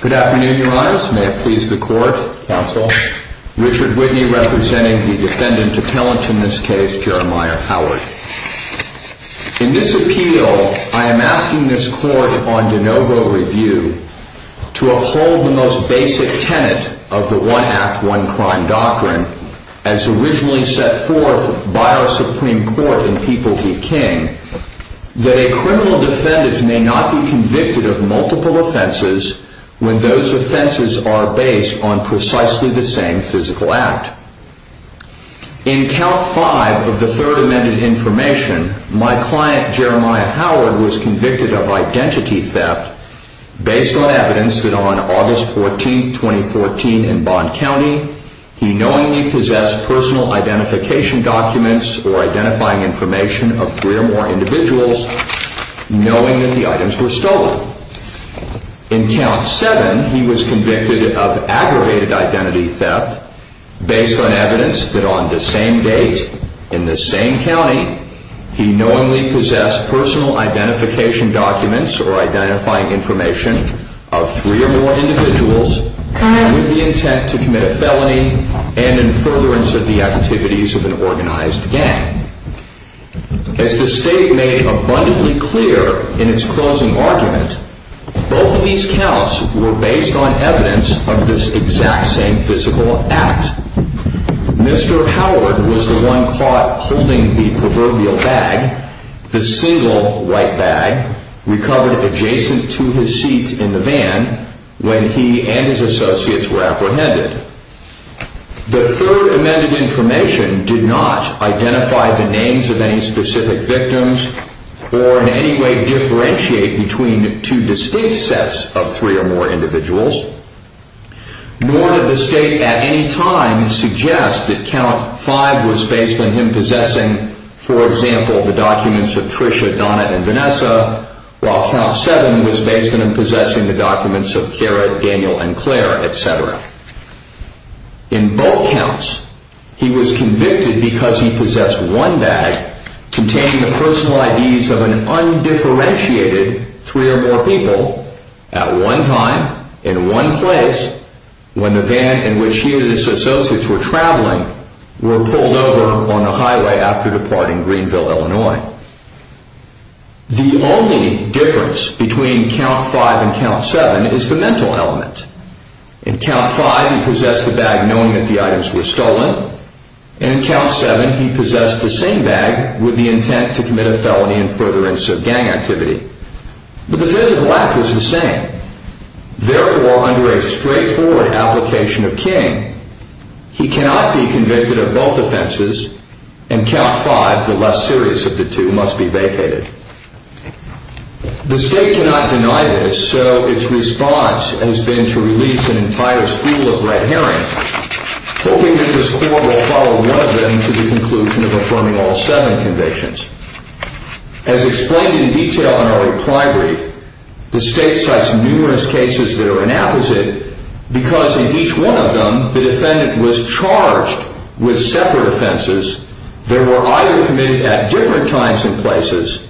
Good afternoon, Your Honors. May it please the Court, Richard Whitney representing the defendant appellant in this case, Jeremiah Howard. In this appeal, I am asking this Court on de novo review to uphold the most basic tenet of the one-act, one-crime doctrine as originally set forth by our Supreme Court in People v. King, that a criminal defendant may not be convicted of multiple offenses when those offenses are based on precisely the same physical act. In Count 5 of the Third Amended Information, my client Jeremiah Howard was convicted of identity theft based on evidence that on August 14, 2014, in Bond County, he knowingly possessed personal identification documents or identifying information of three or more individuals, knowing that the items were stolen. In Count 7, he was convicted of aggravated identity theft based on evidence that on the same date, in the same county, he knowingly possessed personal identification documents or identifying information of three or more individuals with the intent to commit a felony and in furtherance of the activities of an organized gang. As the State made abundantly clear in its closing argument, both of these counts were based on evidence of this exact same physical act. Mr. Howard was the one caught holding the proverbial bag, the single white bag, recovered adjacent to his seat in the van when he and his associates were apprehended. The Third Amended Information did not identify the names of any specific victims or in any way differentiate between two distinct sets of three or more individuals, nor did the State at any time suggest that he possessing, for example, the documents of Tricia, Donna, and Vanessa, while Count 7 was based on him possessing the documents of Garrett, Daniel, and Claire, etc. In both counts, he was convicted because he possessed one bag containing the personal IDs of an undifferentiated three or more people at one time, in one place, when the van in which he and his associates were traveling were pulled over on the highway after departing Greenville, Illinois. The only difference between Count 5 and Count 7 is the mental element. In Count 5, he possessed the bag knowing that the items were stolen, and in Count 7, he possessed the same bag with the intent to commit a felony and furtherance of gang activity. But the physical act was the same. Therefore, under a straightforward application of King, he cannot be convicted of both offenses, and Count 5, the less serious of the two, must be vacated. The State cannot deny this, so its response has been to release an entire school of red herring, hoping that this Court will follow one of them to the conclusion of affirming all seven convictions. As explained in detail in our reply brief, the State cites numerous cases that are an apposite, because in each one of them, the defendant was charged with separate offenses that were either committed at different times and places,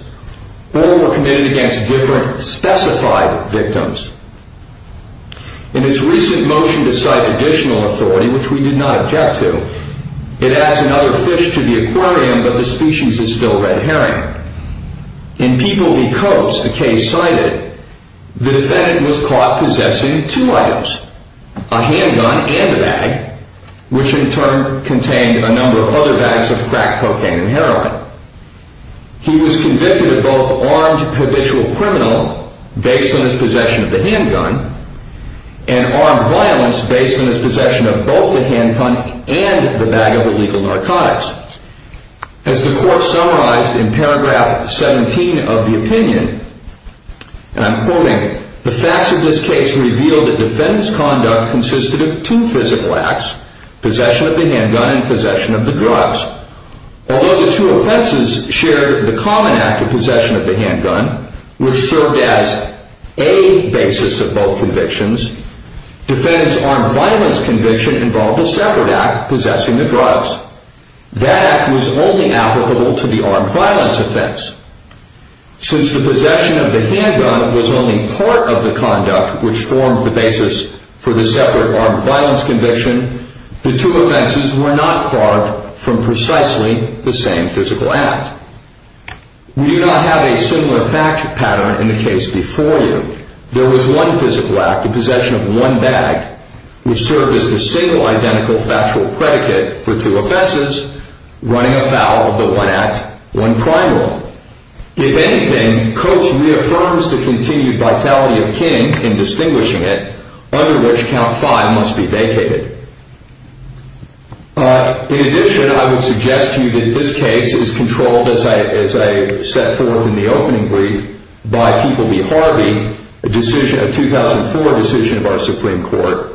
or were committed against different specified victims. In its recent motion to cite additional authority, which we did not object to, it adds another fish to the aquarium, but the species is still red herring. In People v. Coates, the case cited, the defendant was caught possessing two items, a handgun and a bag, which in turn contained a number of other bags of crack cocaine and heroin. He was convicted of both armed habitual criminal, based on his possession of the handgun, and armed violence based on his possession of both the handgun and the handgun, and of illegal narcotics. As the Court summarized in paragraph 17 of the opinion, and I'm quoting, the facts of this case reveal that defendant's conduct consisted of two physical acts, possession of the handgun and possession of the drugs. Although the two offenses shared the common act of possession of the handgun, which served as a basis of both convictions, defendant's armed violence conviction involved a separate act, possessing the drugs. That act was only applicable to the armed violence offense. Since the possession of the handgun was only part of the conduct which formed the basis for the separate armed violence conviction, the two offenses were not carved from precisely the same physical act. We do not have a similar fact pattern in the case before you. There was one physical act in possession of one bag, which served as the single identical factual predicate for two offenses, running afoul of the one act, one primal. If anything, Coates reaffirms the continued vitality of King in distinguishing it, under which count five must be vacated. In addition, I would suggest to you that this case is controlled as I set forth in the opening brief by People v. Harvey, a 2004 decision of our Supreme Court,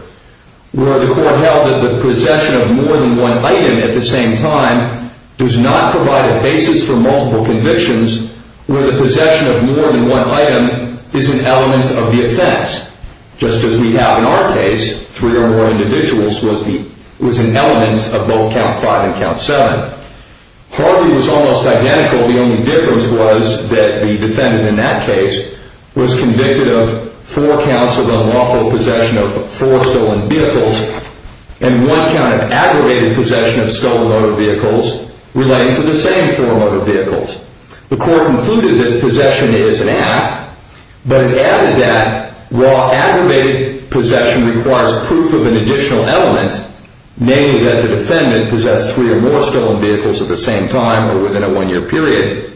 where the court held that the possession of more than one item at the same time does not provide a basis for multiple convictions where the possession of more than one item is an element of the offense, just as we have in our case, three or more individuals was an element of both Harvey was almost identical. The only difference was that the defendant in that case was convicted of four counts of unlawful possession of four stolen vehicles and one count of aggravated possession of stolen motor vehicles relating to the same four motor vehicles. The court concluded that possession is an act, but it added that while aggravated possession requires proof of an additional element, namely that the defendant possessed three or more stolen vehicles at the same time or within a one-year period,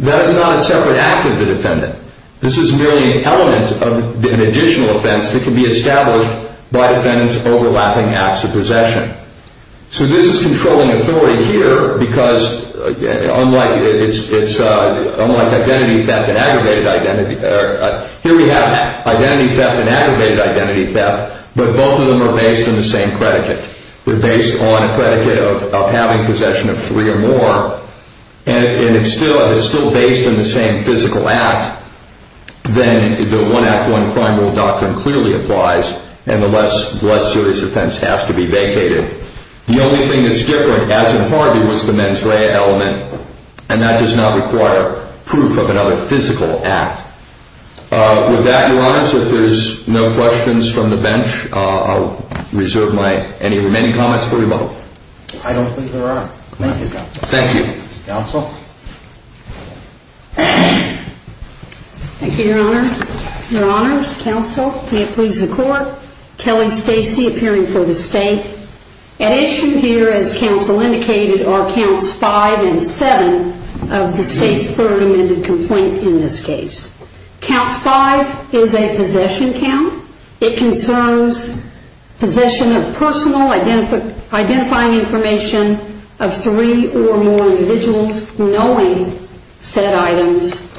that is not a separate act of the defendant. This is merely an element of an additional offense that can be established by defendants overlapping acts of possession. So this is controlling authority here because unlike identity theft and aggravated identity theft, here we have identity theft and aggravated identity theft, but both of them are based on the same predicate. They're based on a predicate of having possession of three or more, and if it's still based on the same physical act, then the one act, one crime rule doctrine clearly applies and the less serious offense has to be vacated. The only thing that's different, as in Harvey, was the mens rea element, and that does not require proof of another physical act. With that, Your Honors, if there's no questions from the bench, I'll reserve my any remaining comments for you both. I don't think there are. Thank you, Counsel. Thank you. Counsel? Thank you, Your Honor. Your Honors, Counsel, may it please the Court, Kelly Stacey appearing for the State. At issue here, as Counsel indicated, are Counts 5 and 7 of the State's third amended complaint in this case. Count 5 is a possession count. It concerns possession of personal identifying information of three or more individuals knowing said items are possession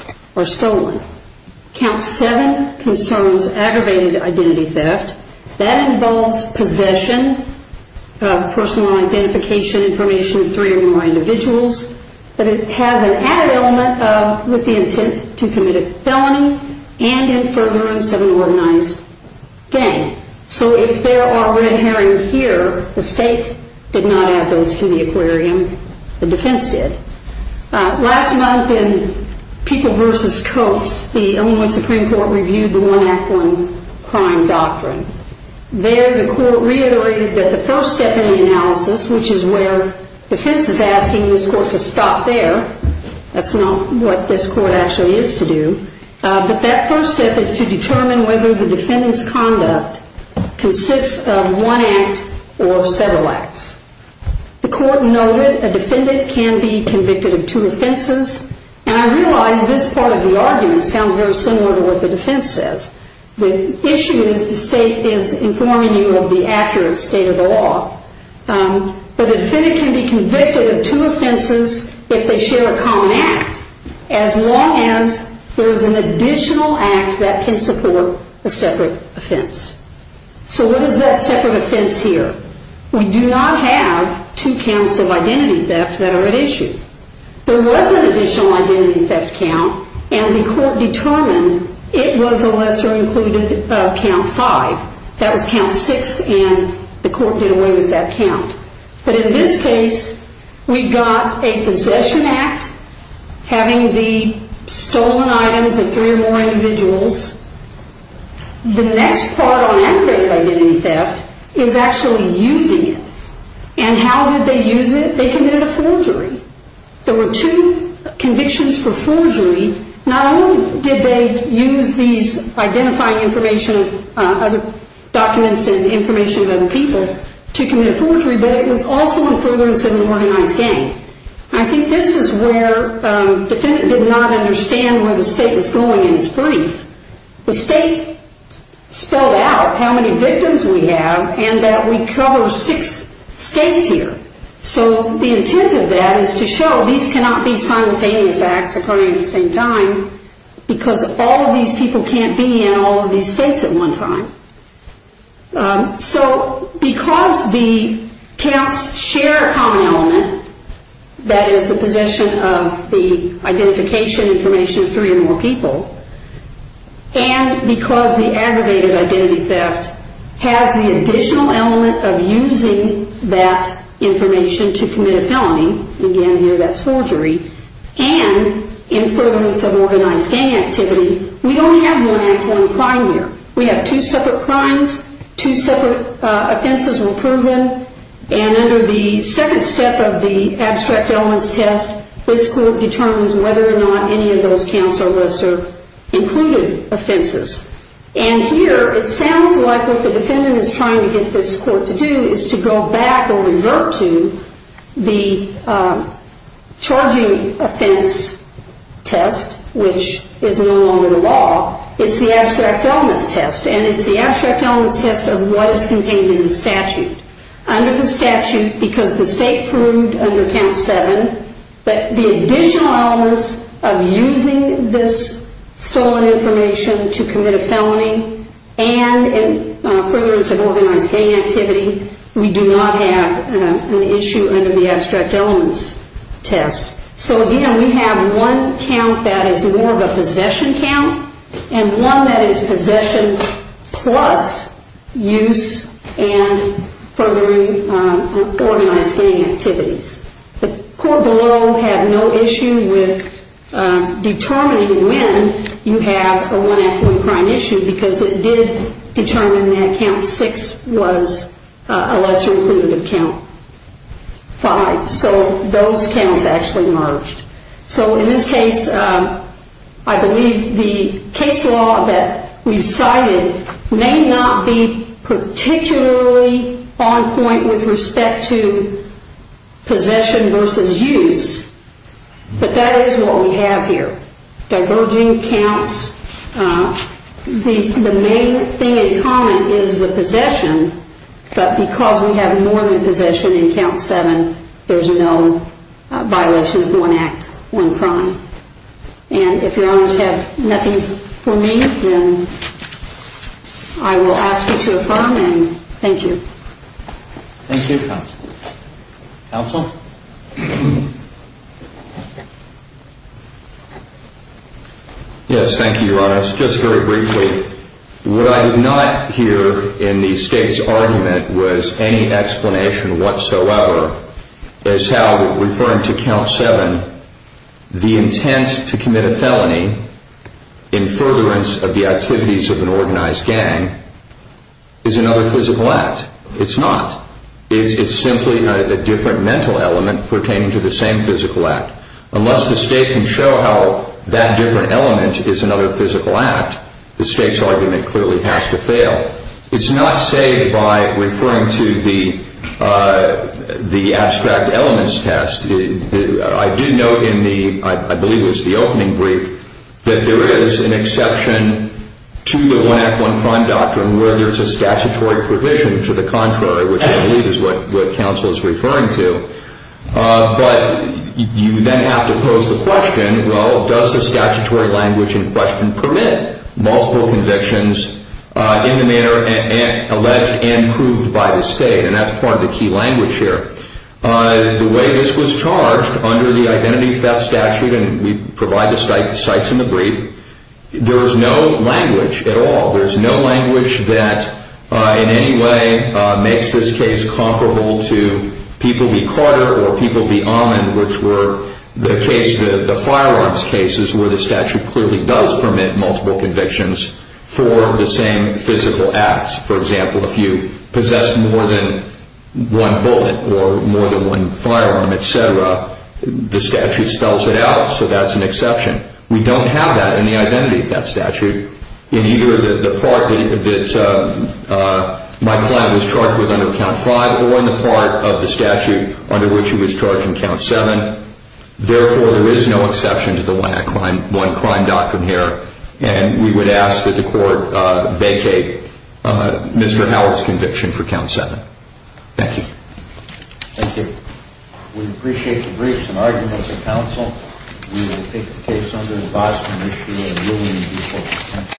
of personal identification information of three or more individuals, but it has an added element with the intent to commit a felony and in furtherance of an organized gang. So if there are red herring here, the State did not add those to the aquarium. The defense did. Last month in People v. Coates, the Illinois Supreme Court reviewed the one act, one crime doctrine. There, the Court reiterated that the first step in the analysis, which is where defense is asking this Court to stop there, that's not what this Court actually is to do, but that first step is to determine whether the defendant's conduct consists of one act or several acts. The Court noted a defendant can be convicted of two offenses, and I realize this part of the argument sounds very similar to what the defense says. The issue is the State is informing you of the accurate state of the law, but a defendant can be convicted of two offenses if they share a common act, as long as there is an additional act that can support a separate offense. So what is that separate offense here? We do not have two counts of identity theft that are at issue. There was an additional identity theft count, and the Court determined it was a lesser included count five. That was count six, and the Court did away with that count. But in this case, we've got a possession act, having the stolen items of three or more individuals. The next part on activated identity theft is actually using it. And how did they use it? They committed a forgery. There were two convictions for forgery. Not only did they use these identifying documents and information of other people to commit a forgery, but it was also in furtherance of an organized gang. I think this is where the defendant did not understand where the State was going in its brief. The State spelled out how many victims we have and that we cover six states here. So the intent of that is to show these cannot be simultaneous acts occurring at the same time, because all of these people can't be in all of these states at one time. So because the counts share a common element, that is the possession of the identification information of three or more people, and because the aggravated identity theft has the additional element of using that information to commit a felony, again here that's forgery, and in furtherance of organized gang activity, we only have one act, one crime here. We have two separate crimes, two separate offenses were proven, and under the second step of the abstract elements test, this Court determines whether or not any of those counts are lesser included offenses. And here it sounds like what the defendant is trying to get this Court to do is to go back or revert to the charging offense test, which is no longer the law. It's the abstract elements test, and it's the abstract elements test of what is contained in the statute. Under the statute, because the State proved under Count 7 that the additional elements of using this stolen information to commit a felony, and in furtherance of organized gang activity, we do not have an issue under the abstract elements test. So again, we have one count that is more of a possession count, and one that is possession plus use and furthering organized gang activities. The Court below had no issue with determining when you have a one act, one crime issue, because it did determine that Count 6 was a lesser included count, 5. So those counts actually merged. So in this case, I believe the case law that we've cited may not be particularly on point with respect to possession versus use, but that is what we have here. Diverging counts, the main thing in common is the possession, but because we have more than possession in Count 7, there's no violation of one act, one crime. And if Your Honors have nothing for me, then I will ask you to affirm, and thank you. Thank you, Counsel. Counsel? Yes, thank you, Your Honors. Just very briefly, what I did not hear in the State's argument was any explanation whatsoever as how referring to Count 7, the intent to commit a felony in furtherance of the activities of an organized gang is another physical act. It's not. It's simply a different mental element pertaining to the same physical act. Unless the State can show how that different element is another physical act, the State's argument clearly has to fail. It's not saved by referring to the abstract elements test. I did note in the, I believe it was the opening brief, that there is an exception to the one act, one crime doctrine where there's a statutory provision to the contrary, which I believe is what Counsel is referring to. But you then have to pose the question, well, does the statutory language in question permit multiple convictions in the manner alleged and proved by the State? And that's part of the key language here. The way this was charged under the Identity Theft Statute, and we provide the cites in the brief, there is no language at all. There's no language that in any way makes this case comparable to People v. Carter or People v. Ahman, which were the case, the firearms cases where the statute clearly does permit multiple convictions for the same physical acts. For example, if you possess more than one bullet or more than one firearm, et cetera, the statute spells it out, so that's an exception. We don't have that in the Identity Theft Statute in either the part that my client was charged with under Count 5 or in the part of the statute under which he was charged in Count 7. Therefore, there is no exception to the one crime doctrine here, and we would ask that the Court vacate Mr. Howard's conviction for Count 7. Thank you. Thank you. We appreciate the briefs and arguments of counsel. We will take the case under the Boston issue and ruling in default.